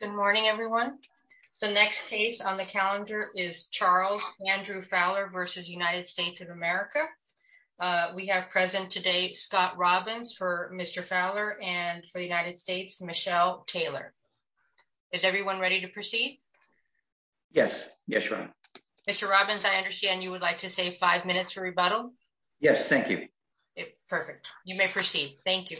Good morning, everyone. The next case on the calendar is Charles Andrew Fowler v. United States of America. We have present today, Scott Robbins for Mr. Fowler and for the United States, Michelle Taylor. Is everyone ready to proceed? Yes. Yes. Mr. Robbins, I understand you would like to say five minutes for rebuttal. Yes. Thank you. Perfect. You may proceed. Thank you.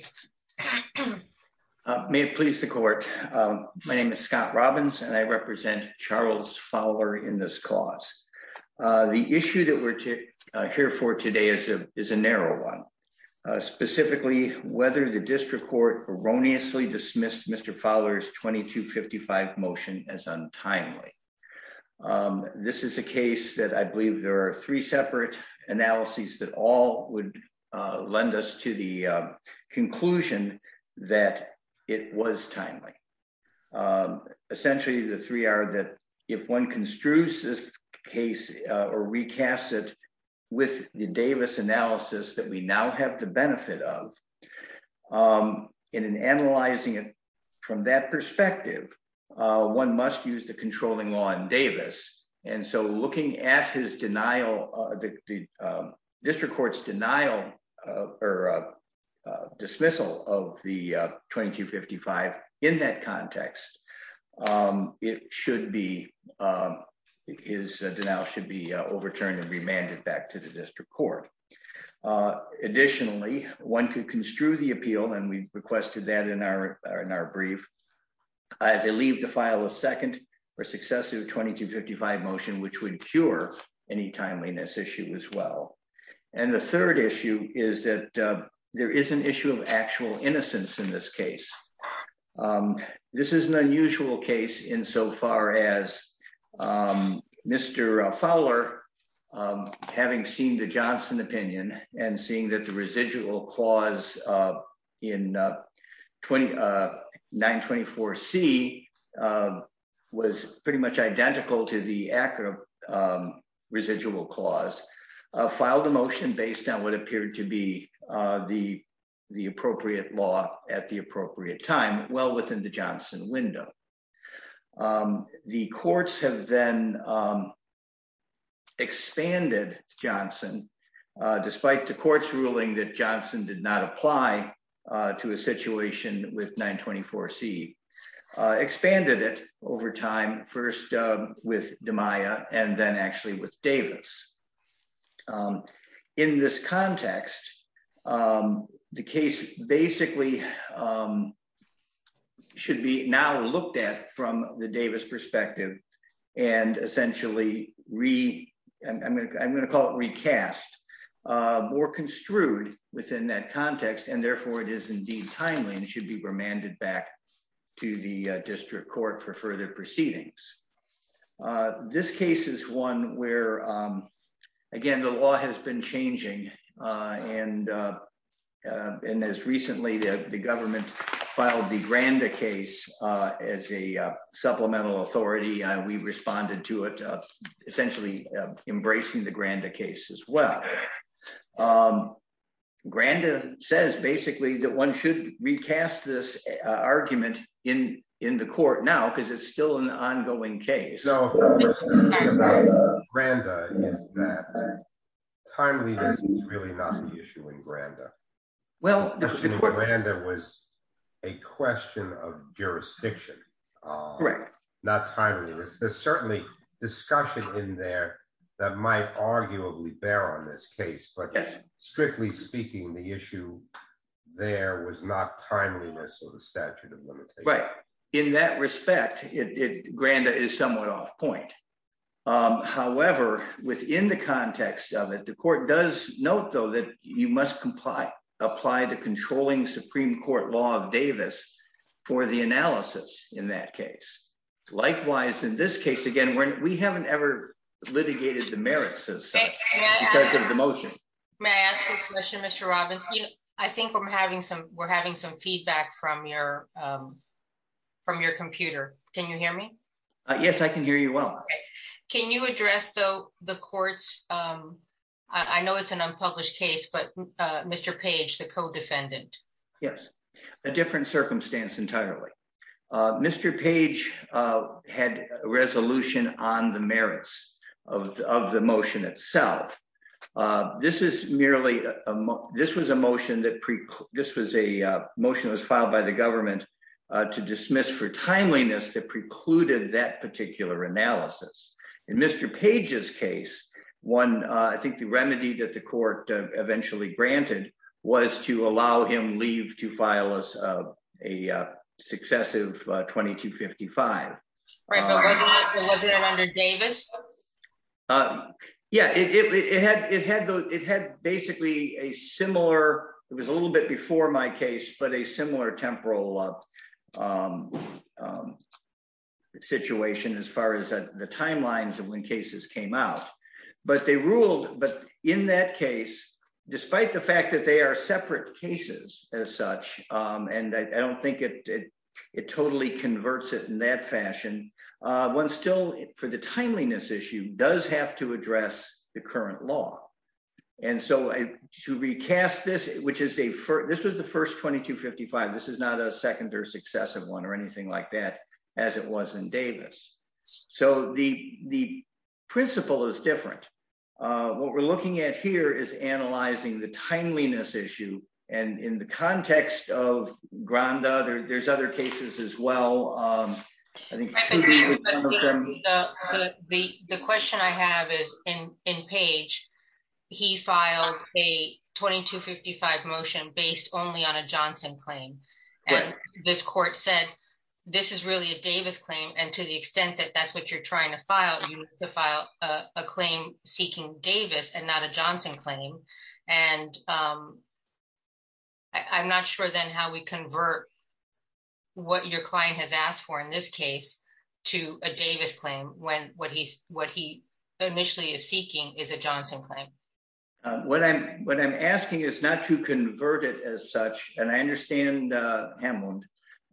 May it please the court. My name is Scott Robbins and I represent Charles Fowler in this cause. The issue that we're here for today is a narrow one. Specifically, whether the district court erroneously dismissed Mr. Fowler's 2255 motion as untimely. This is a case that I believe there are three separate analyses that all would lend us to the conclusion that it was timely. Essentially, the three are that if one construes this case or recast it with the Davis analysis that we now have the benefit of. And in analyzing it from that perspective, one must use the controlling law on Davis. And so looking at his denial, the district court's denial or dismissal of the 2255 in that context, it should be is now should be overturned and remanded back to the district court. Additionally, one can construe the appeal and we requested that in our in our brief as a leave to file a second or successive 2255 motion which would cure any timeliness issue as well. And the third issue is that there is an issue of actual innocence in this case. This is an unusual case in so far as Mr. Fowler. Having seen the Johnson opinion and seeing that the residual clause in 2924 C was pretty much identical to the accurate residual clause filed a motion based on what appeared to be the, the appropriate law at the appropriate time. Well within the Johnson window. The courts have then expanded Johnson, despite the court's ruling that Johnson did not apply to a situation with 924 C expanded it over time, first with the Maya, and then actually with Davis. In this context, the case, basically, should be now looked at from the Davis perspective, and essentially, we, I'm going to call it recast or construed within that context and therefore it is indeed timely and should be remanded back to the district court for further proceedings. This case is one where, again, the law has been changing. And, and as recently the government filed the grander case as a supplemental authority we responded to it, essentially, embracing the grander case as well. Grander says basically that one should recast this argument in, in the court now because it's still an ongoing case. So, a question of jurisdiction. There's certainly discussion in there that might arguably bear on this case but strictly speaking the issue. There was not timeliness or the statute of limitations. Right. In that respect, it grander is somewhat off point. However, within the context of it the court does note though that you must comply, apply the controlling Supreme Court law of Davis for the analysis in that case. Likewise, in this case again when we haven't ever litigated the merits of the motion. Mr Robinson, I think I'm having some, we're having some feedback from your, from your computer. Can you hear me. Yes, I can hear you well. Can you address so the courts. I know it's an unpublished case but Mr page the co defendant. Yes, a different circumstance entirely. Mr page had resolution on the merits of the motion itself. This is merely a. This was a motion that this was a motion was filed by the government to dismiss for timeliness that precluded that particular analysis. In Mr pages case one, I think the remedy that the court eventually granted was to allow him leave to file us a successive 2255. Davis. Yeah, it had it had it had basically a similar, it was a little bit before my case but a similar temporal situation as far as the timelines and when cases came out, but they ruled, but in that case, despite the fact that they are separate cases, as such, and I don't think it, it totally converts it in that fashion. One still for the timeliness issue does have to address the current law. And so I should recast this, which is a for this was the first 2255 This is not a second or successive one or anything like that, as it was in Davis. So the, the principle is different. What we're looking at here is analyzing the timeliness issue, and in the context of ground other there's other cases as well. The question I have is in in page. He filed a 2255 motion based only on a Johnson claim. This court said this is really a Davis claim and to the extent that that's what you're trying to file the file, a claim seeking Davis and not a Johnson claim. And I'm not sure then how we convert what your client has asked for in this case to a Davis claim when what he's what he initially is seeking is a Johnson claim. What I'm, what I'm asking is not to convert it as such, and I understand Hamlin.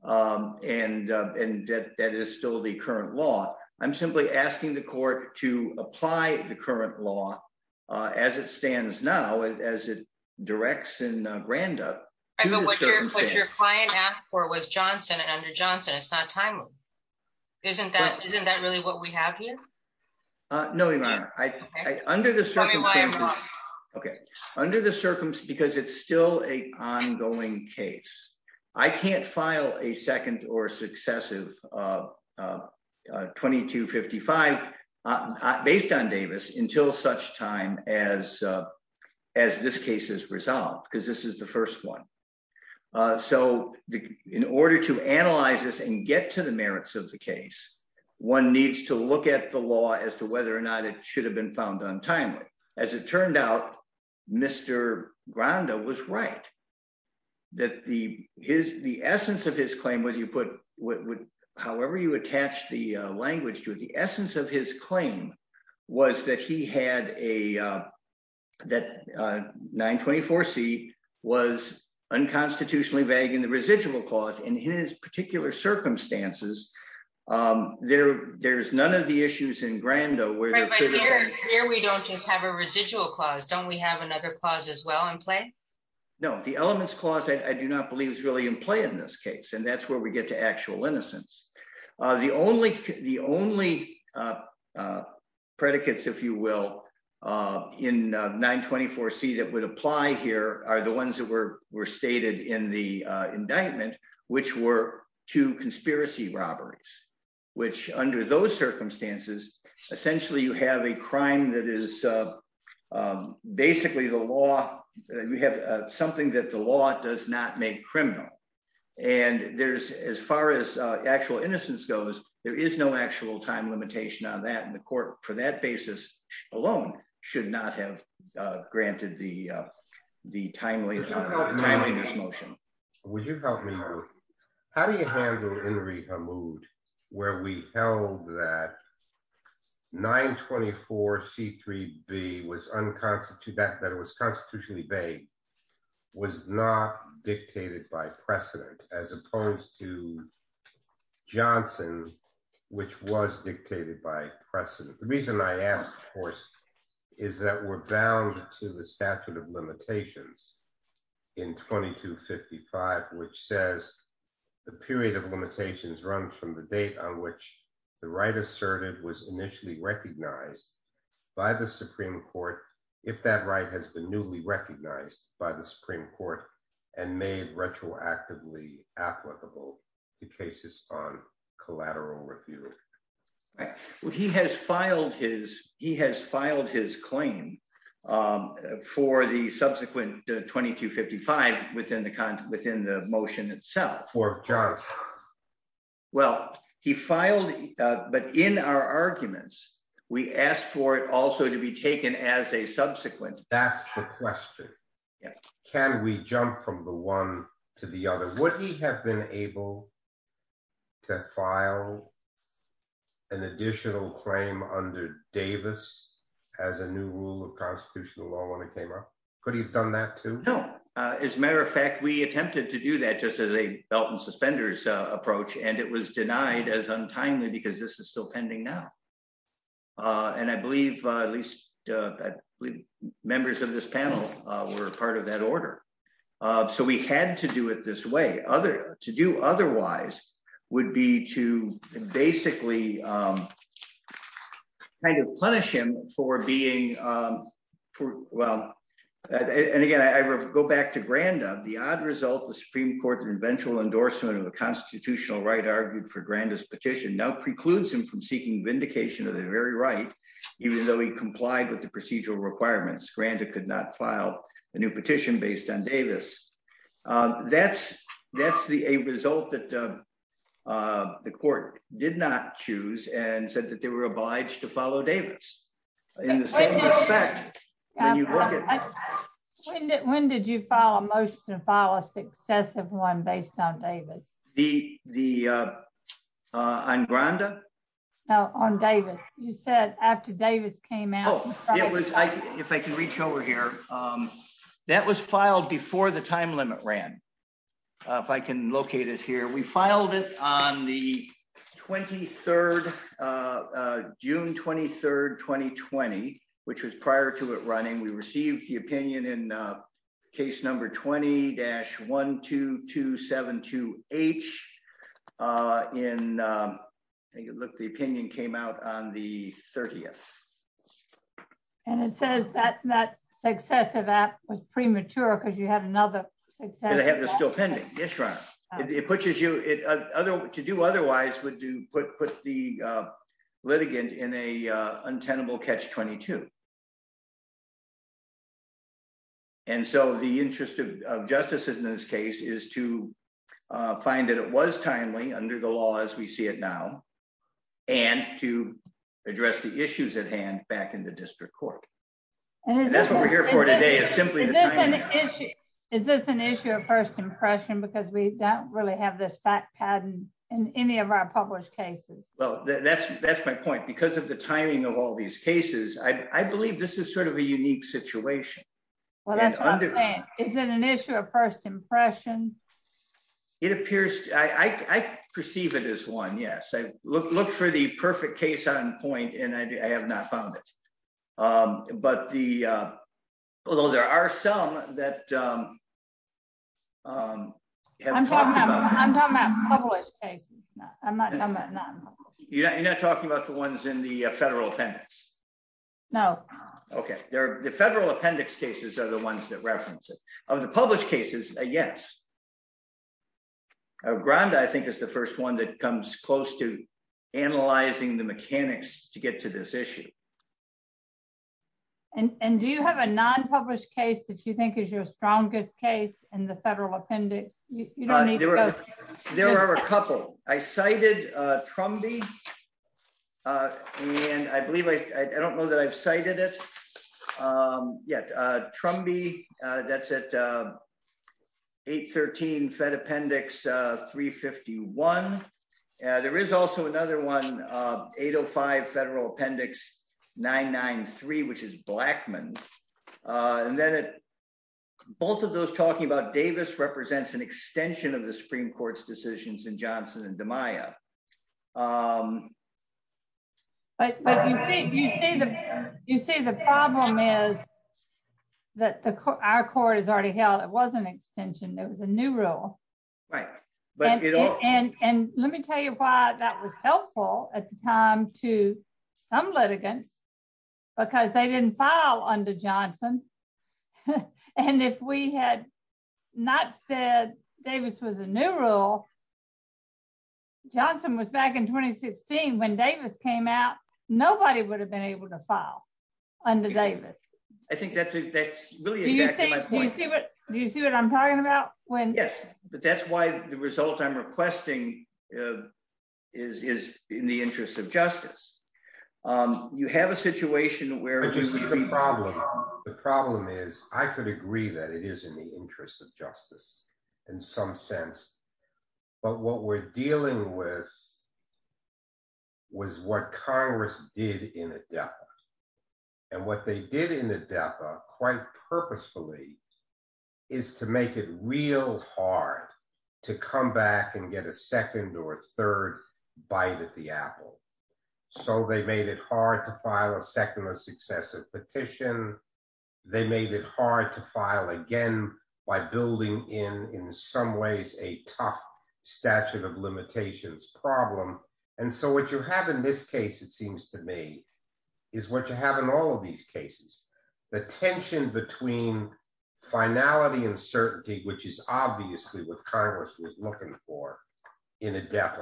And, and that is still the current law, I'm simply asking the court to apply the current law, as it stands now as it directs in Randa. And what your client asked for was Johnson and under Johnson it's not timely. Isn't that isn't that really what we have here. No, I under the circumstances. Okay. Under the circumstance because it's still a ongoing case. I can't file a second or successive 2255 based on Davis until such time as, as this case is resolved because this is the first one. So, in order to analyze this and get to the merits of the case. One needs to look at the law as to whether or not it should have been found on timely, as it turned out, Mr. Randa was right that the, his, the essence of his claim was you put what would however you attach the language to the essence of his claim was that he had a that 924 C was unconstitutionally vague in the residual clause in his particular circumstances. There, there's none of the issues in grander where we don't just have a residual clause don't we have another clause as well and play. No, the elements clause I do not believe is really in play in this case and that's where we get to actual innocence. The only the only predicates, if you will, in 924 C that would apply here are the ones that were were stated in the indictment, which were to conspiracy robberies, which under those circumstances, essentially you have a crime that is basically the law, you have something that the law does not make criminal. And there's as far as actual innocence goes, there is no actual time limitation on that and the court for that basis alone should not have granted the, the timely motion. Would you help me. How do you handle in rehab mood, where we held that 924 c three B was unconstituted that that was constitutionally vague was not dictated by precedent, as opposed to Johnson, which was dictated by precedent. The reason I asked, of course, is that we're bound to the statute of limitations in 2255, which says the period of limitations runs from the date on which the right asserted was initially recognized by the Supreme Court. If that right has been newly recognized by the Supreme Court, and made retroactively applicable to cases on collateral review. He has filed his he has filed his claim for the subsequent 2255 within the content within the motion itself for jobs. Well, he filed, but in our arguments, we asked for it also to be taken as a subsequent. That's the question. Can we jump from the one to the other what he has been able to file an additional claim under Davis, as a new rule of constitutional law when it came up. No. As a matter of fact, we attempted to do that just as a belt and suspenders approach and it was denied as untimely because this is still pending now. And I believe, at least, members of this panel were part of that order. So we had to do it this way other to do otherwise would be to basically Kind of punish him for being Well, and again I will go back to grand of the odd result, the Supreme Court and eventual endorsement of a constitutional right argued for grandest petition now precludes him from seeking vindication of the very right, even though he complied with the procedural requirements granted could not file a new petition based on Davis. That's, that's the a result that The court did not choose and said that they were obliged to follow Davis. When did you file a motion to file a successive one based on Davis, the, the Now on Davis, you said after Davis came out. If I can reach over here. That was filed before the time limit ran. If I can locate is here we filed it on the 23rd. June 23 2020 which was prior to it running we received the opinion in case number 20 dash 12272 H in Look, the opinion came out on the 30th. And it says that that successive app was premature because you have another success. Yes, right. It pushes you it other to do otherwise would do put put the litigant in a untenable catch 22 And so the interest of justice in this case is to find that it was timely under the law as we see it now. And to address the issues at hand back in the district court. And that's what we're here for today is simply Is this an issue of first impression because we don't really have this fact pattern in any of our published cases. Well, that's, that's my point because of the timing of all these cases. I believe this is sort of a unique situation. Well, that's what I'm saying. Is it an issue of first impression. It appears I perceive it as one. Yes, I look, look for the perfect case on point and I have not found it. But the although there are some that I'm talking about published cases. I'm not Yeah, you're not talking about the ones in the federal appendix. No. Okay, there are the federal appendix cases are the ones that reference of the published cases. Yes. Ground, I think, is the first one that comes close to analyzing the mechanics to get to this issue. And do you have a non published case that you think is your strongest case and the federal appendix. There are a couple I cited from me. And I believe I don't know that I've cited it. Yet. That's it. 813 Fed Appendix 351 There is also another one 805 federal appendix 993 which is Blackman. And then both of those talking about Davis represents an extension of the Supreme Court's decisions and Johnson and the Maya. But you see the you see the problem is That the court. Our court is already held. It wasn't extension. There was a new rule. Right. But, you know, and and let me tell you why that was helpful at the time to some litigants, because they didn't file under Johnson. And if we had not said Davis was a new rule. Johnson was back in 2016 when Davis came out, nobody would have been able to file under Davis. I think that's it. That's really Do you see what I'm talking about when Yes, but that's why the result I'm requesting. Is in the interest of justice. You have a situation where The problem is, I could agree that it is in the interest of justice in some sense. But what we're dealing with. Was what Congress did in a depth. And what they did in the depth of quite purposefully is to make it real hard to come back and get a second or third bite at the apple. So they made it hard to file a second successive petition. They made it hard to file again by building in, in some ways, a tough statute of limitations problem. And so what you have in this case, it seems to me. Is what you have in all of these cases, the tension between finality and certainty, which is obviously what Congress was looking for in a depth.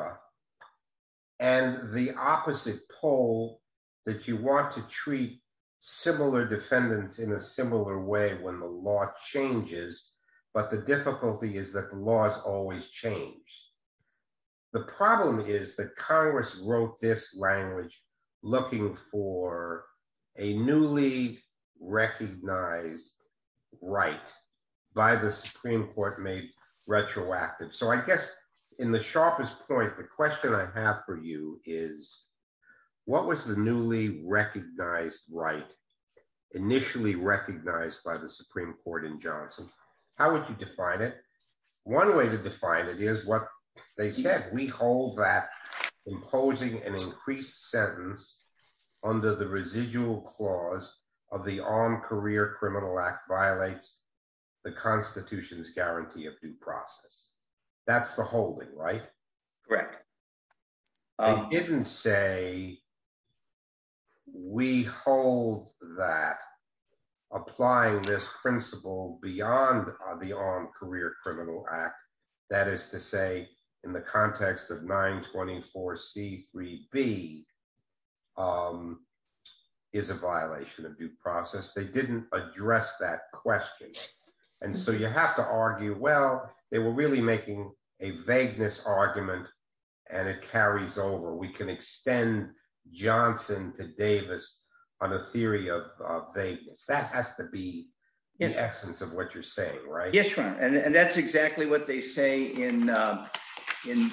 And the opposite poll that you want to treat similar defendants in a similar way when the law changes, but the difficulty is that the laws always change. The problem is that Congress wrote this language looking for a newly recognized right by the Supreme Court made retroactive. So I guess in the sharpest point. The question I have for you is What was the newly recognized right initially recognized by the Supreme Court in Johnson, how would you define it. One way to define it is what they said we hold that imposing an increased sentence. Under the residual clause of the on career criminal act violates the Constitution's guarantee of due process. That's the holding right correct Didn't say We hold that applying this principle beyond the on career criminal act. That is to say, in the context of 924 c three B. Is a violation of due process. They didn't address that question. And so you have to argue. Well, they were really making a vagueness argument and it carries over. We can extend Johnson to Davis on a theory of vagueness that has to be In essence of what you're saying, right. Yes. And that's exactly what they say in in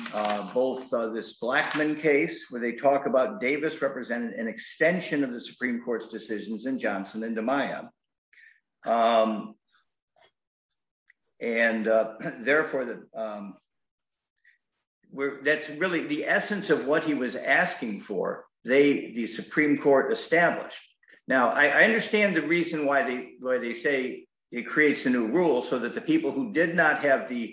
both this Blackman case where they talk about Davis represented an extension of the Supreme Court's decisions and Johnson into Maya. And therefore, the We're that's really the essence of what he was asking for they the Supreme Court established. Now I understand the reason why they why they say it creates a new rule so that the people who did not have the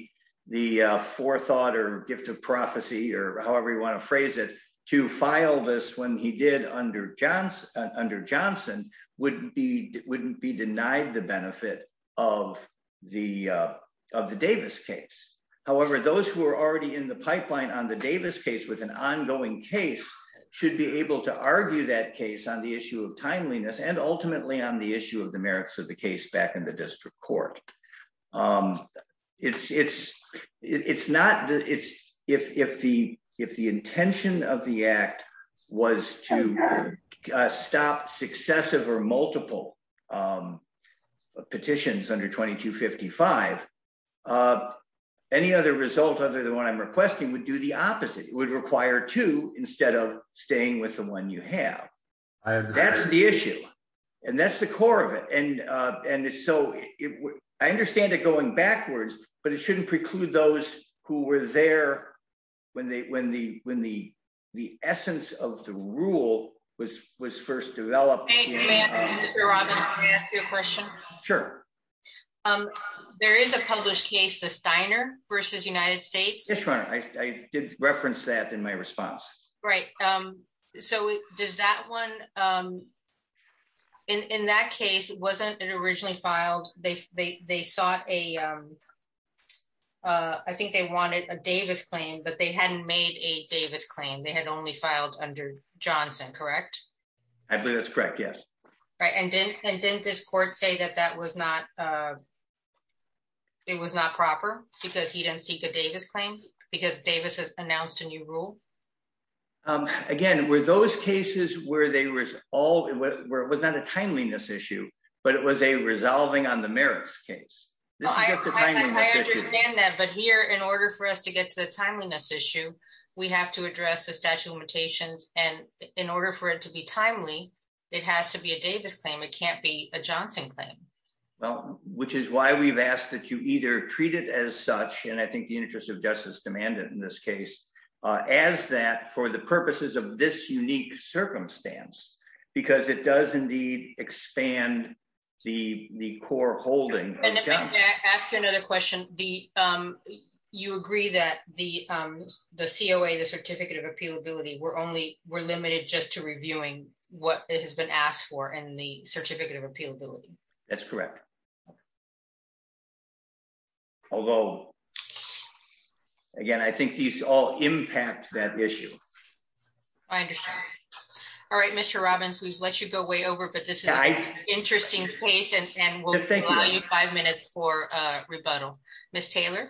The forethought or gift of prophecy or however you want to phrase it to file this when he did under john's under Johnson wouldn't be wouldn't be denied the benefit of the Of the Davis case. However, those who are already in the pipeline on the Davis case with an ongoing case should be able to argue that case on the issue of timeliness and ultimately on the issue of the merits of the case back in the district court. It's, it's, it's not. It's if the if the intention of the act was to stop successive or multiple Petitions under 2255 Any other results other than what I'm requesting would do the opposite would require to instead of staying with the one you have That's the issue. And that's the core of it. And, and so I understand it going backwards, but it shouldn't preclude those who were there when they when the when the the essence of the rule was was first developed Sure. There is a published case this diner versus United States. I did reference that in my response. Right. So does that one. In that case, it wasn't originally filed they they they saw a I think they wanted a Davis claim, but they hadn't made a Davis claim. They had only filed under Johnson. Correct. I believe that's correct. Yes. Right. And then, and then this court say that that was not It was not proper because he didn't seek a Davis claim because Davis has announced a new rule. Again, were those cases where they were all it was not a timeliness issue, but it was a resolving on the merits case. But here in order for us to get to the timeliness issue. We have to address the statute limitations and in order for it to be timely. It has to be a Davis claim. It can't be a Johnson claim. Well, which is why we've asked that you either treat it as such. And I think the interest of justice demanded in this case. As that for the purposes of this unique circumstance, because it does indeed expand the the core holding Ask you another question. The You agree that the the COA the Certificate of Appeal ability. We're only we're limited just to reviewing what has been asked for in the Certificate of Appeal ability. That's correct. Although Again, I think these all impact that issue. I understand. All right, Mr. Robbins, we've let you go way over, but this is an interesting case and Five minutes for rebuttal. Miss Taylor.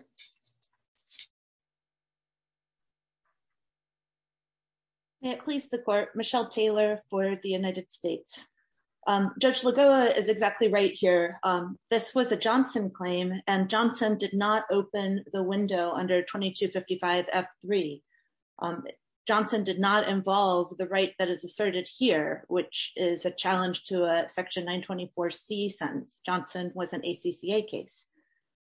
At least the court Michelle Taylor for the United States. Judge logo is exactly right here. This was a Johnson claim and Johnson did not open the window under 2255 f3 Johnson did not involve the right that is asserted here, which is a challenge to a section 924 C sentence Johnson was an ACCA case.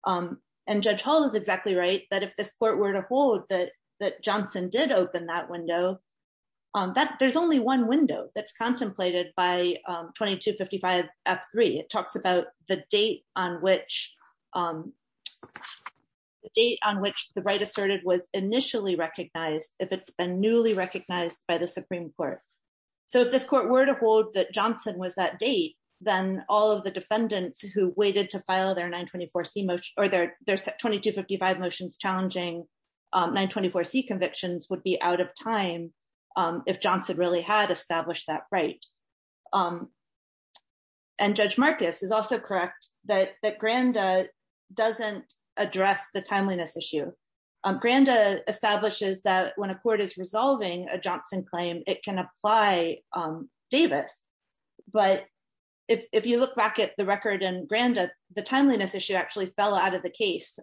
And Judge Hall is exactly right that if this court were to hold that that Johnson did open that window on that there's only one window that's contemplated by 2255 f3 it talks about the date on which The date on which the right asserted was initially recognized if it's been newly recognized by the Supreme Court. So if this court were to hold that Johnson was that date, then all of the defendants who waited to file their 924 C motion or their, their 2255 motions challenging 924 C convictions would be out of time if Johnson really had established that right. And Judge Marcus is also correct that that Granda doesn't address the timeliness issue. Granda establishes that when a court is resolving a Johnson claim, it can apply Davis. But if you look back at the record and Granda the timeliness issue actually fell out of the case.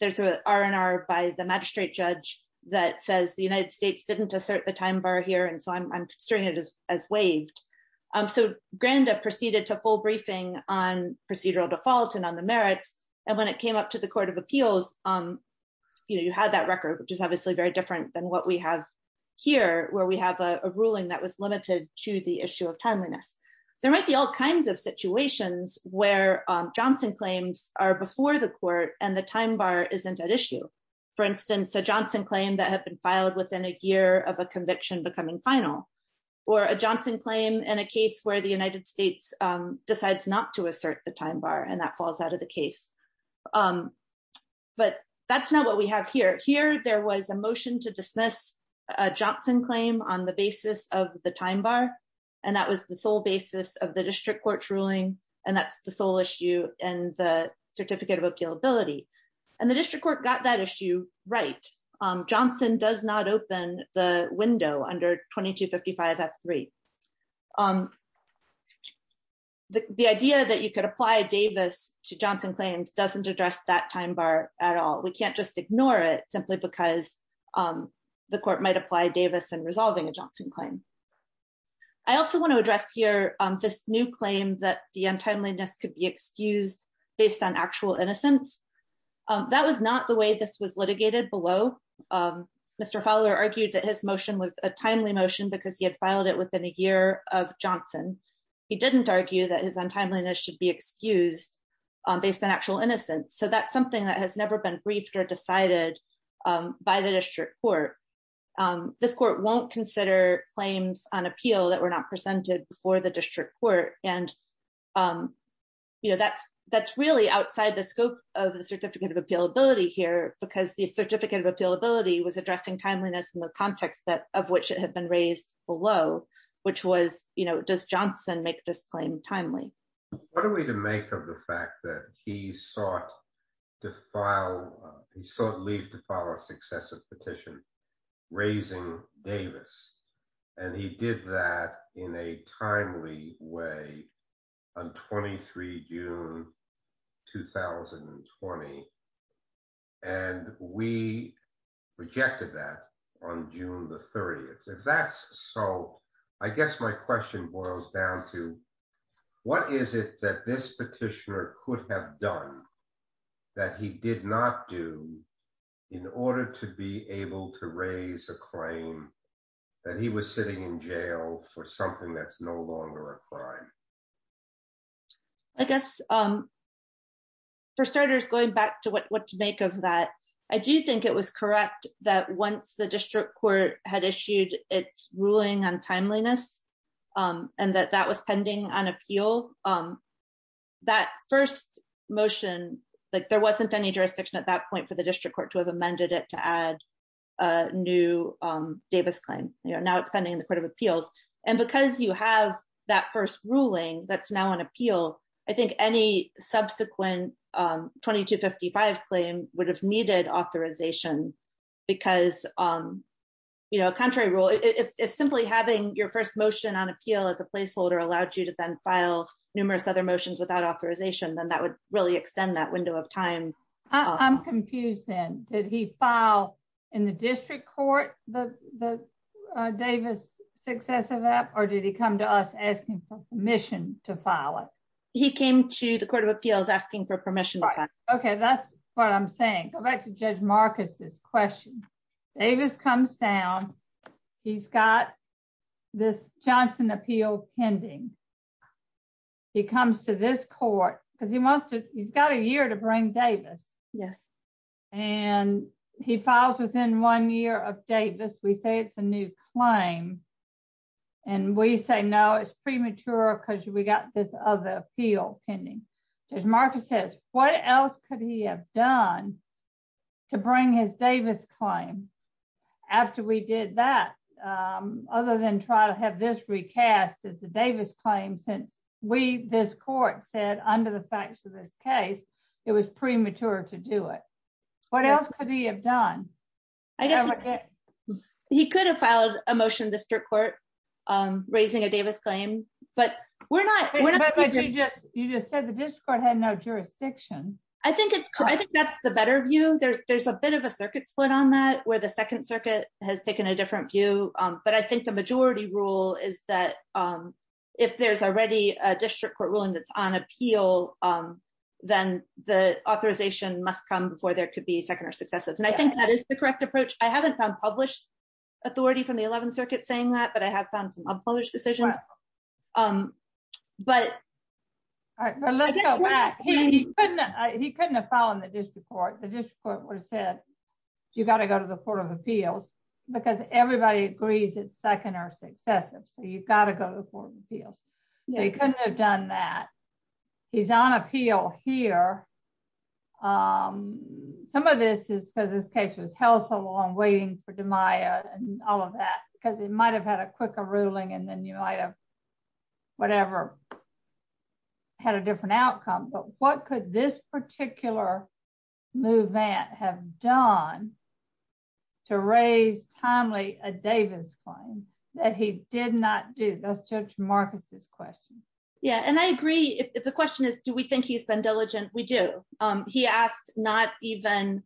There's an R&R by the magistrate judge that says the United States didn't assert the time bar here and so I'm considering it as waived. So Granda proceeded to full briefing on procedural default and on the merits. And when it came up to the Court of Appeals, you know, you had that record, which is obviously very different than what we have here where we have a ruling that was limited to the issue of timeliness. There might be all kinds of situations where Johnson claims are before the court and the time bar isn't at issue. For instance, a Johnson claim that had been filed within a year of a conviction becoming final or a Johnson claim in a case where the United States decides not to assert the time bar and that falls out of the case. But that's not what we have here. Here there was a motion to dismiss a Johnson claim on the basis of the time bar. And that was the sole basis of the district court's ruling. And that's the sole issue and the Certificate of Appealability. And the district court got that issue right. Johnson does not open the window under 2255 F3. The idea that you could apply Davis to Johnson claims doesn't address that time bar at all. We can't just ignore it simply because the court might apply Davis in resolving a Johnson claim. I also want to address here this new claim that the untimeliness could be excused based on actual innocence. That was not the way this was litigated below. Mr. Fowler argued that his motion was a timely motion because he had filed it within a year of Johnson. He didn't argue that his untimeliness should be excused based on actual innocence. So that's something that has never been briefed or decided by the district court. This court won't consider claims on appeal that were not presented before the district court. And that's really outside the scope of the Certificate of Appealability here because the Certificate of Appealability was addressing timeliness in the context of which it had been raised below, which was, does Johnson make this claim timely? What are we to make of the fact that he sought leave to file a successive petition raising Davis? And he did that in a timely way on 23 June 2020. And we rejected that on June the 30th. If that's so, I guess my question boils down to what is it that this petitioner could have done that he did not do in order to be able to raise a claim that he was sitting in jail for something that's no longer a crime? I guess, for starters, going back to what to make of that, I do think it was correct that once the district court had issued its ruling on timeliness and that that was pending on appeal, that first motion, there wasn't any jurisdiction at that point for the district court to have amended it to add a new Davis claim. Now it's pending in the Court of Appeals. And because you have that first ruling that's now on appeal, I think any subsequent 2255 claim would have needed authorization because, you know, contrary rule, if simply having your first motion on appeal as a placeholder allowed you to then file numerous other motions without authorization, then that would really extend that window of time. I'm confused then. Did he file in the district court, the Davis successive app, or did he come to us asking for permission to file it? He came to the Court of Appeals asking for permission. Okay, that's what I'm saying. Go back to Judge Marcus's question. Davis comes down. He's got this Johnson appeal pending. He comes to this court, because he wants to, he's got a year to bring Davis. Yes. And he files within one year of Davis we say it's a new claim. And we say no it's premature because we got this other field pending. Judge Marcus says, what else could he have done to bring his Davis claim. After we did that, other than try to have this recast is the Davis claim since we this court said under the facts of this case, it was premature to do it. What else could he have done. I guess he could have filed a motion district court, raising a Davis claim, but we're not just, you just said the district court had no jurisdiction. I think that's the better view there's there's a bit of a circuit split on that where the Second Circuit has taken a different view, but I think the majority rule is that if there's already a district court ruling that's on appeal. Then the authorization must come before there could be a second or successives and I think that is the correct approach. I haven't found published authority from the 11th circuit saying that but I have found some unpublished decisions. Um, but let's go back. He couldn't have found the district court, the district court was said, you got to go to the Court of Appeals, because everybody agrees it's second or successive so you've got to go to the Court of Appeals. They couldn't have done that. He's on appeal here. Um, some of this is because this case was held so long waiting for the Maya, and all of that, because it might have had a quicker ruling and then you might have whatever had a different outcome but what could this particular move that have done to raise a Davis claim that he did not do those church Marcus's question. Yeah, and I agree if the question is, do we think he's been diligent, we do. He asked, not even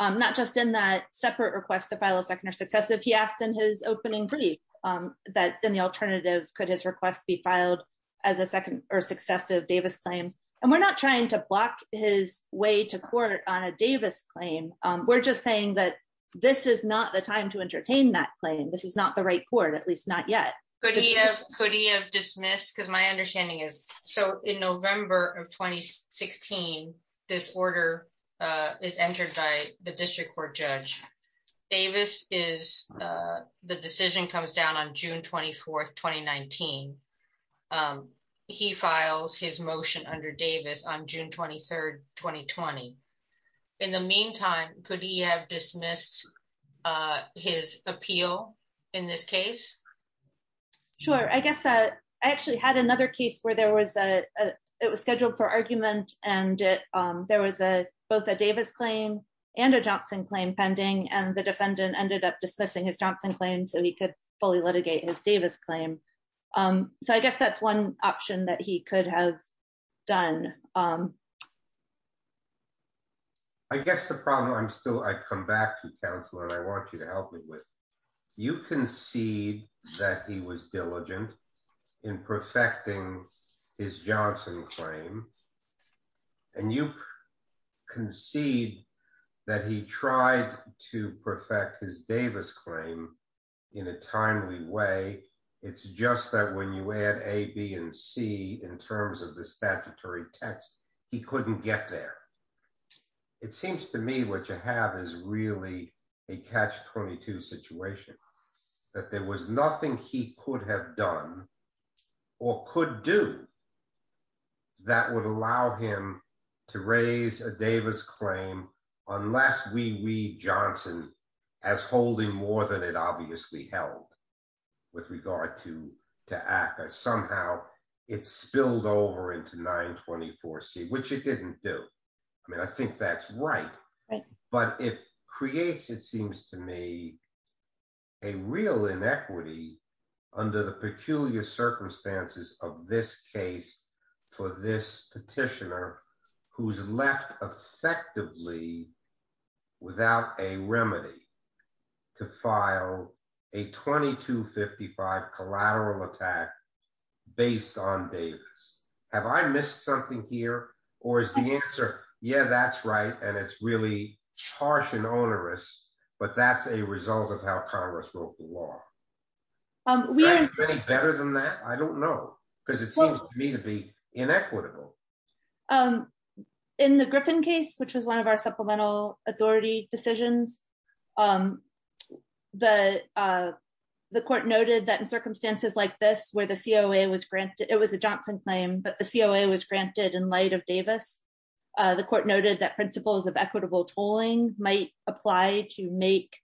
not just in that separate request to file a second or successive he asked in his opening brief that then the alternative could his request be filed as a second or successive Davis claim, and we're not trying to block his way to court on a Davis claim. We're just saying that this is not the time to entertain that claim this is not the right court at least not yet. Could he have, could he have dismissed because my understanding is so in November of 2016. This order is entered by the district court judge Davis is the decision comes down on June 24 2019. He files his motion under Davis on June 23 2020. In the meantime, could he have dismissed his appeal in this case. Sure, I guess I actually had another case where there was a, it was scheduled for argument, and there was a both a Davis claim and a Johnson claim pending and the defendant ended up dismissing his Johnson claim so he could fully litigate his Davis claim. So I guess that's one option that he could have done. I guess the problem I'm still I come back to counsel and I want you to help me with you can see that he was diligent in perfecting his Johnson claim. And you can see that he tried to perfect his Davis claim in a timely way. It's just that when you add a B and C, in terms of the statutory text, he couldn't get there. It seems to me what you have is really a catch 22 situation that there was nothing he could have done or could do. That would allow him to raise a Davis claim, unless we read Johnson as holding more than it obviously held with regard to to act as somehow it spilled over into 924 see which it didn't do. I mean, I think that's right, but it creates it seems to me a real inequity under the peculiar circumstances of this case for this petitioner, who's left effectively without a remedy to file a 2255 collateral attack, based on Davis. Have I missed something here, or is the answer. Yeah, that's right. And it's really harsh and onerous, but that's a result of how Congress wrote the law. We are better than that, I don't know, because it seems to me to be inequitable. I'm in the Griffin case which was one of our supplemental authority decisions. The, the court noted that in circumstances like this where the COA was granted it was a Johnson claim but the COA was granted in light of Davis. The court noted that principles of equitable tolling might apply to make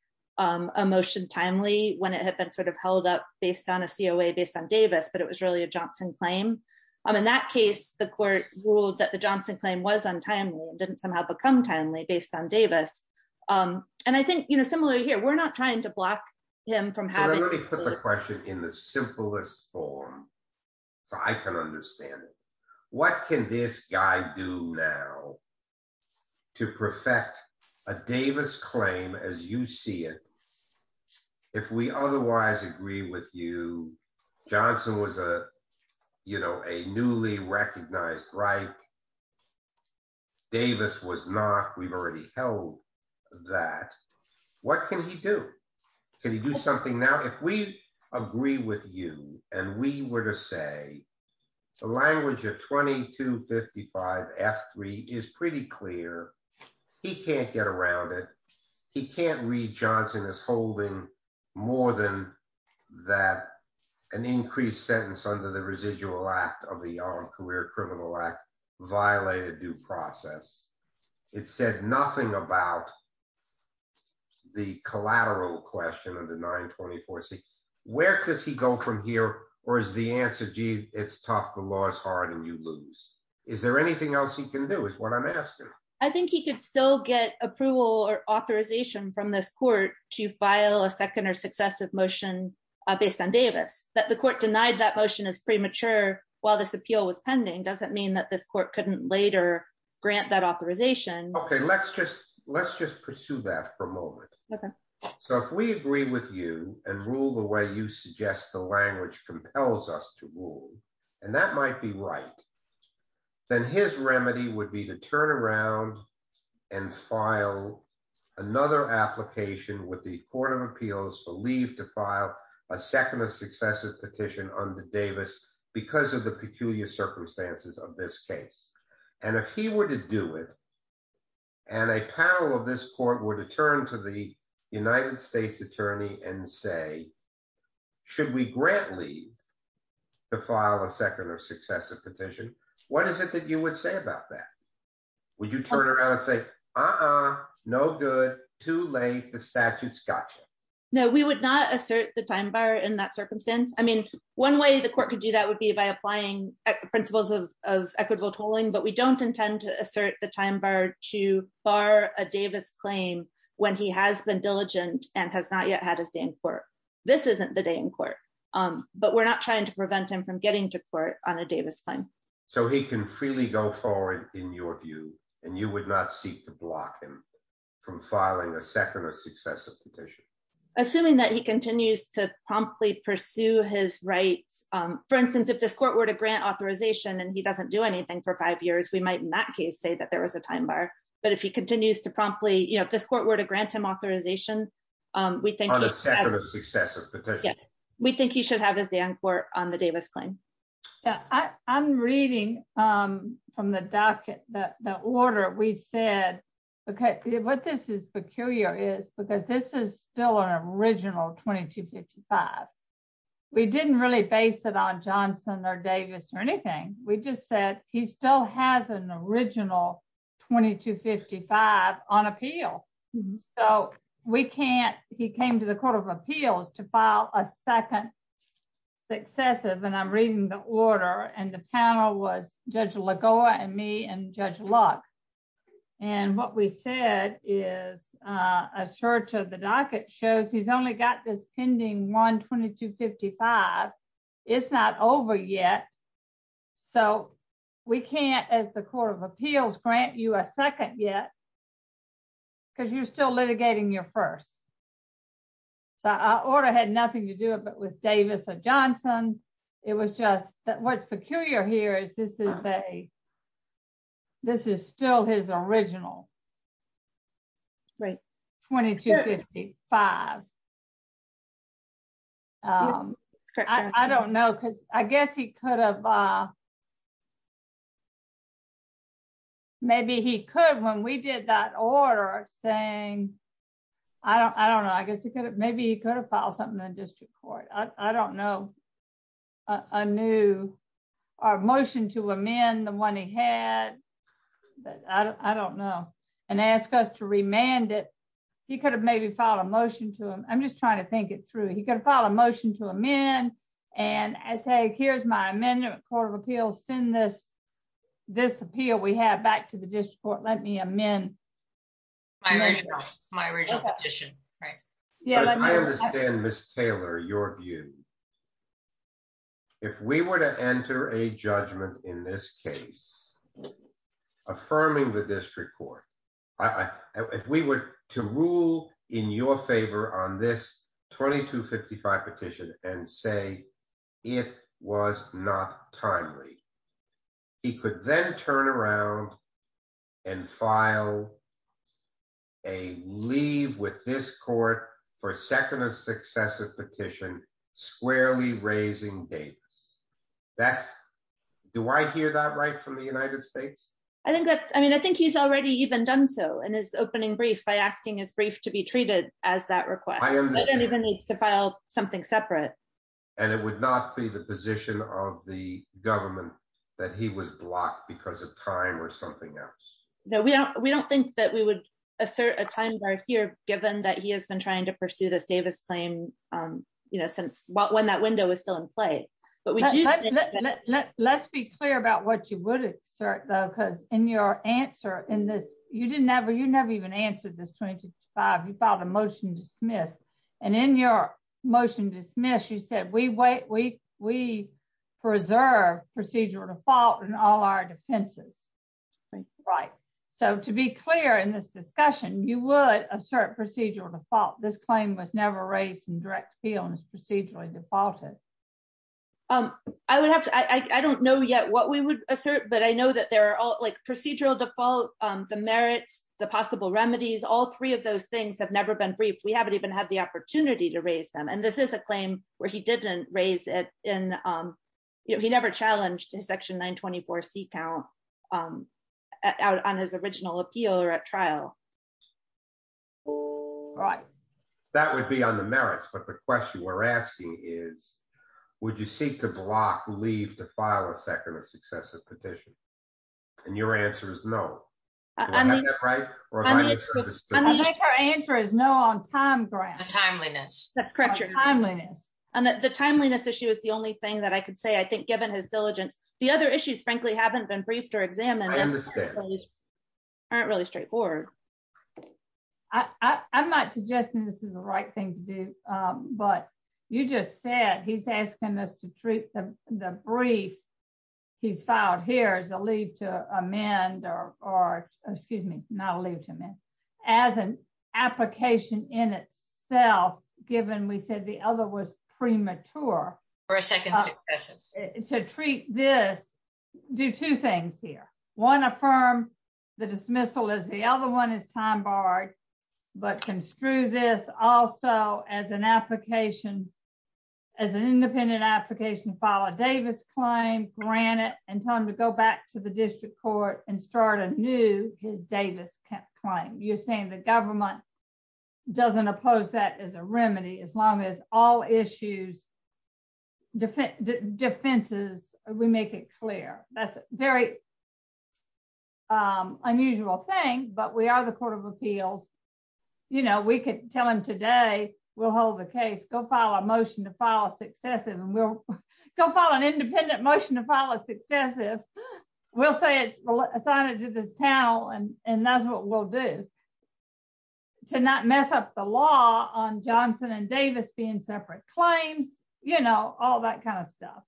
emotion timely when it had been sort of held up based on a COA based on Davis, but it was really a Johnson claim. In that case, the court ruled that the Johnson claim was untimely didn't somehow become timely based on Davis. And I think you know similarly here we're not trying to block him from having a question in the simplest form. So I can understand what can this guy do now to perfect a Davis claim as you see it. If we otherwise agree with you, Johnson was a, you know, a newly recognized right. Davis was not we've already held that. What can he do. Can you do something now if we agree with you, and we were to say the language of 2255 f3 is pretty clear. He can't get around it. He can't read Johnson is holding more than that. An increased sentence under the residual act of the career criminal act violated due process. It said nothing about the collateral question of the 924 see where does he go from here, or is the answer G, it's tough the laws hard and you lose. Is there anything else you can do is what I'm asking. I think he could still get approval or authorization from this court to file a second or successive motion based on Davis, that the court denied that motion is premature. While this appeal was pending doesn't mean that this court couldn't later grant that authorization. Okay, let's just, let's just pursue that for a moment. So if we agree with you and rule the way you suggest the language compels us to rule, and that might be right. Then his remedy would be to turn around and file another application with the Court of Appeals for leave to file a second successive petition on the Davis, because of the peculiar circumstances of this case. And if he were to do it. And a panel of this court were to turn to the United States Attorney and say, should we grant leave to file a second or successive petition. What is it that you would say about that. Would you turn around and say, uh, no good too late, the statutes gotcha. No, we would not assert the time bar in that circumstance. I mean, one way the court could do that would be by applying principles of equitable tooling but we don't intend to assert the time bar to bar a Davis claim when he has been diligent and has not yet had a stand for this isn't the day in court. But we're not trying to prevent him from getting to court on a Davis claim, so he can freely go forward in your view, and you would not seek to block him from filing a second successive petition, assuming that he continues to promptly pursue his rights. For instance, if this court were to grant authorization and he doesn't do anything for five years we might not case say that there was a time bar, but if he continues to promptly you know if this court were to grant him authorization. We think we think he should have his day on court on the Davis claim. I'm reading from the docket that the order we said, Okay, what this is peculiar is because this is still an original 2255. We didn't really base it on Johnson or Davis or anything, we just said, he still has an original 2255 on appeal. So, we can't, he came to the Court of Appeals to file a second successive and I'm reading the order and the panel was judged to let go and me and judge luck. And what we said is a search of the docket shows he's only got this pending one 2255. It's not over yet. So, we can't as the Court of Appeals grant you a second yet, because you're still litigating your first order had nothing to do it but with Davis or Johnson. It was just that what's peculiar here is this is a. This is still his original right 2255. I don't know because I guess he could have. Maybe he could when we did that or saying, I don't know I guess he could have maybe he could have filed something in district court, I don't know. I knew our motion to amend the one he had. I don't know, and ask us to remand it. He could have maybe file a motion to him, I'm just trying to think it through he can file a motion to amend. And I take here's my amendment Court of Appeals send this, this appeal we have back to the district court let me amend. My, my region. Yeah, I understand Miss Taylor your view. If we were to enter a judgment in this case, affirming the district court. If we were to rule in your favor on this 2255 petition and say it was not timely. He could then turn around and file a leave with this court for second and successive petition squarely raising Davis. That's do I hear that right from the United States. I think that's, I mean I think he's already even done so and his opening brief by asking his brief to be treated as that request. I don't even need to file something separate, and it would not be the position of the government that he was blocked because of time or something else. No, we don't, we don't think that we would assert a time bar here, given that he has been trying to pursue this Davis claim. You know, since what when that window is still in play, but we do. Let's be clear about what you would assert though because in your answer in this, you didn't ever you never even answered this 2255 you filed a motion dismiss, and in your motion dismiss you said we wait we we preserve procedural default and all our offenses. Right. So to be clear in this discussion you would assert procedural default this claim was never raised in direct field and procedurally defaulted. Um, I would have, I don't know yet what we would assert but I know that there are all like procedural default, the merits, the possible remedies all three of those things have never been briefed we haven't even had the opportunity to raise them and this is a claim where he didn't raise it in. He never challenged his section 924 see count out on his original appeal or at trial. Right. That would be on the merits but the question we're asking is, would you seek to block leave to file a second successive petition. And your answer is no. Right. I think our answer is no on time ground timeliness correct your timeliness, and that the timeliness issue is the only thing that I could say I think given his diligence. The other issues frankly haven't been briefed or examined. Aren't really straightforward. I might suggest this is the right thing to do. But you just said he's asking us to treat the brief. He's found here is a lead to amend or, or, excuse me, not only to me as an application in itself, given we said the other was premature for a second. It's a treat this do two things here. One affirm the dismissal is the other one is time barred, but construe this also as an application as an independent application file a Davis claim granted and time to go back to the district court and start a new his Davis kept crying, you're saying the government doesn't oppose that as a remedy as long as all issues, defense defenses, we make it clear that's very unusual thing but we are the Court of Appeals. You know we could tell him today, we'll hold the case go file a motion to file a successive and we'll go file an independent motion to file a successive will say it's assigned to this panel and and that's what we'll do to not mess up the law on Johnson and Davis being separate claims, you know, all that kind of stuff.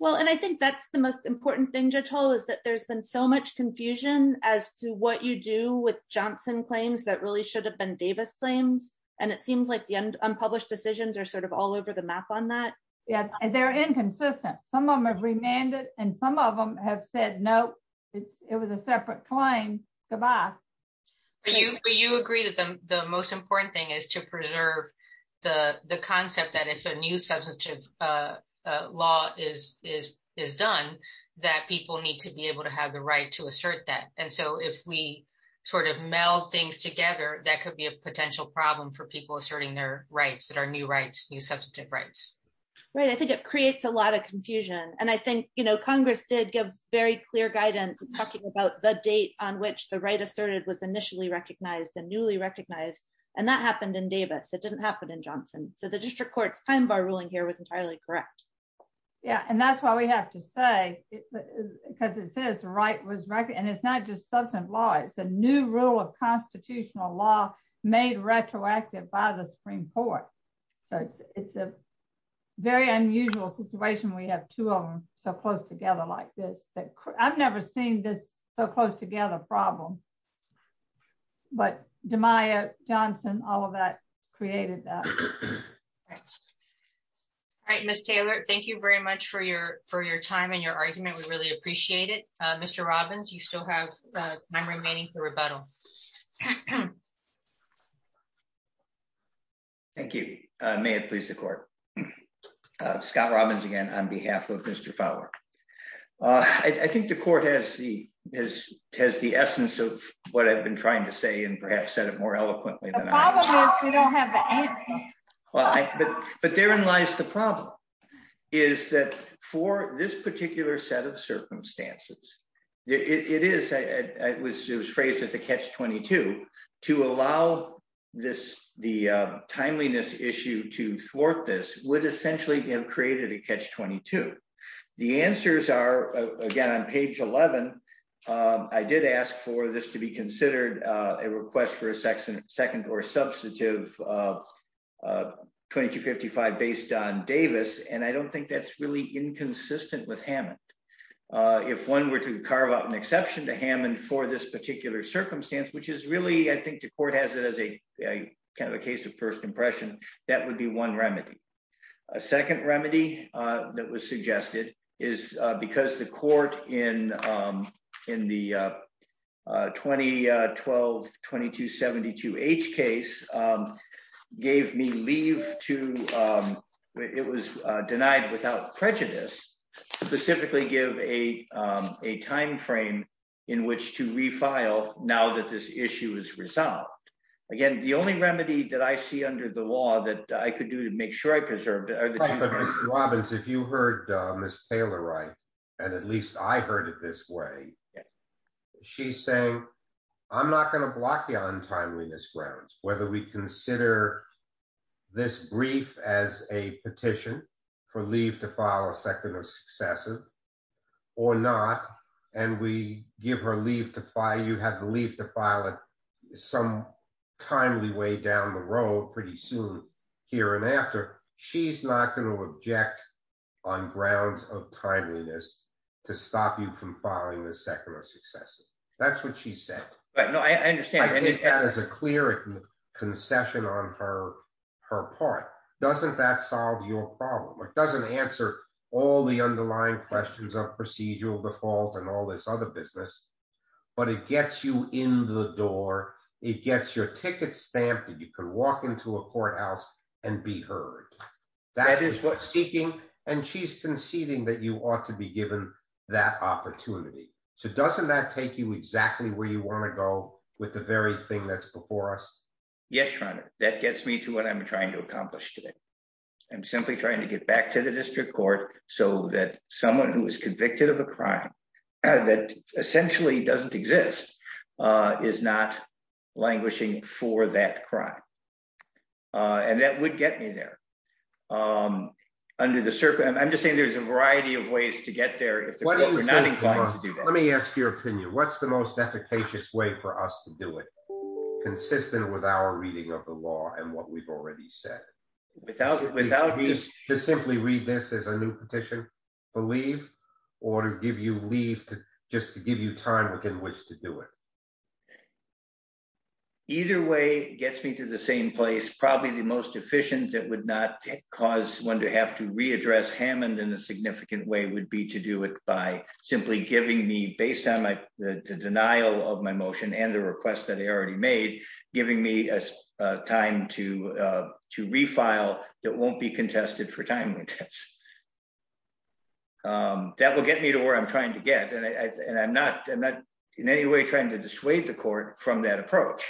Well, and I think that's the most important thing to tell us that there's been so much confusion as to what you do with Johnson claims that really should have been Davis claims, and it seems like the end unpublished decisions are sort of all over the map on that. Yeah, they're inconsistent. Some of them have remanded, and some of them have said no. It was a separate claim. Goodbye. You, you agree that the most important thing is to preserve the, the concept that if a new substantive law is is is done that people need to be able to have the right to assert that. And so if we sort of meld things together, that could be a potential problem for people asserting their rights that are new rights new substantive rights. Right, I think it creates a lot of confusion and I think you know Congress did give very clear guidance and talking about the date on which the right asserted was initially recognized and newly recognized, and that happened in Davis, it didn't happen in Johnson, so the district courts time bar ruling here was entirely correct. Yeah, and that's why we have to say, because it says right was right and it's not just substantive law it's a new rule of constitutional law made retroactive by the Supreme Court. So it's, it's a very unusual situation we have to have so close together like this that I've never seen this so close together problem. But the Maya Johnson, all of that created. Right, Miss Taylor, thank you very much for your, for your time and your argument we really appreciate it. Mr Robbins you still have time remaining for rebuttal. Thank you, may it please the court. Scott Robins again on behalf of Mr Fowler. I think the court has the has has the essence of what I've been trying to say and perhaps said it more eloquently. We don't have the answer. But therein lies the problem is that for this particular set of circumstances. It is, it was phrased as a catch 22 to allow this, the timeliness issue to thwart this would essentially have created a catch 22. The answers are again on page 11. I did ask for this to be considered a request for a sex and second or substantive 2255 based on Davis, and I don't think that's really inconsistent with Hammond. If one were to carve out an exception to Hammond for this particular circumstance which is really I think the court has it as a kind of a case of first impression, that would be one remedy. A second remedy that was suggested is because the court in in the 2012 2272 H case gave me leave to. It was denied without prejudice specifically give a, a timeframe in which to refile. Now that this issue is resolved. Again, the only remedy that I see under the law that I could do to make sure I preserved. Robbins if you heard Miss Taylor right, and at least I heard it this way. She's saying, I'm not going to block you on timeliness grounds, whether we consider this brief as a petition for leave to file a second or successive or not. And we give her leave to fly you have to leave to file it some timely way down the road pretty soon. Here and after she's not going to object on grounds of timeliness to stop you from following the second or successive. That's what she said, but no I understand it as a clear concession on her, her part, doesn't that solve your problem it doesn't answer all the underlying questions of procedural default and all this other business, but it gets you in the door, it gets your ticket stamp that you can walk into a courthouse and be heard. That is what speaking, and she's conceding that you ought to be given that opportunity. So doesn't that take you exactly where you want to go with the very thing that's before us. Yes, that gets me to what I'm trying to accomplish today. I'm simply trying to get back to the district court, so that someone who was convicted of a crime that essentially doesn't exist is not languishing for that crime. And that would get me there under the surface I'm just saying there's a variety of ways to get there if you're not inclined to do, let me ask your opinion, what's the most efficacious way for us to do it consistent with our reading of the law and what we've already said, without, just simply read this as a new petition for leave, or to give you leave to just to give you time within which to do it. Either way, gets me to the same place probably the most efficient that would not cause one to have to readdress Hammond in a significant way would be to do it by simply giving me based on my, the denial of my motion and the request that they already made, giving me as time to to refile that won't be contested for time. That will get me to where I'm trying to get and I'm not I'm not in any way trying to dissuade the court from that approach.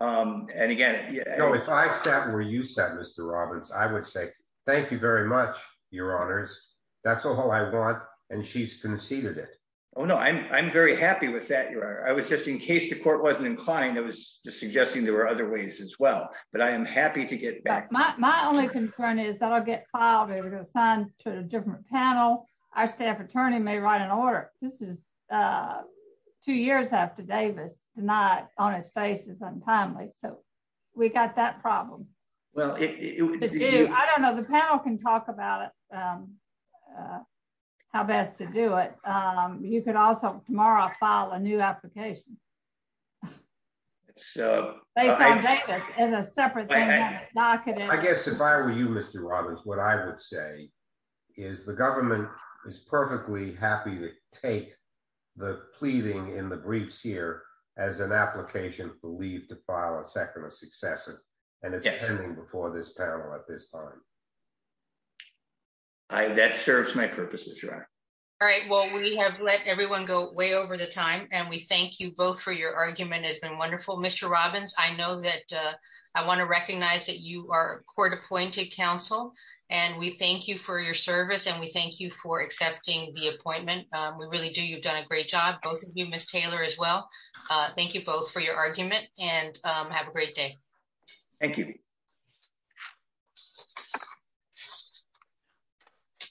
And again, if I sat where you said Mr Robbins I would say, thank you very much, your honors. That's all I want, and she's conceded it. Oh no I'm very happy with that you are I was just in case the court wasn't inclined it was just suggesting there were other ways as well, but I am happy to get back. My only concern is that I'll get clouded assign to a different panel, our staff attorney may write an order. This is two years after Davis tonight on his face is untimely so we got that problem. Well, I don't know the panel can talk about it. How best to do it. You can also tomorrow file a new application. So, as a separate. I guess if I were you Mr Robbins what I would say is the government is perfectly happy to take the pleading in the briefs here as an application for leave to file a second successor, and it's before this panel at this time. That serves my purposes right. All right, well we have let everyone go way over the time, and we thank you both for your argument has been wonderful Mr Robbins I know that I want to recognize that you are court appointed counsel, and we thank you for your service and we thank you for accepting the appointment. We really do you've done a great job both of you Miss Taylor as well. Thank you both for your argument, and have a great day. Thank you.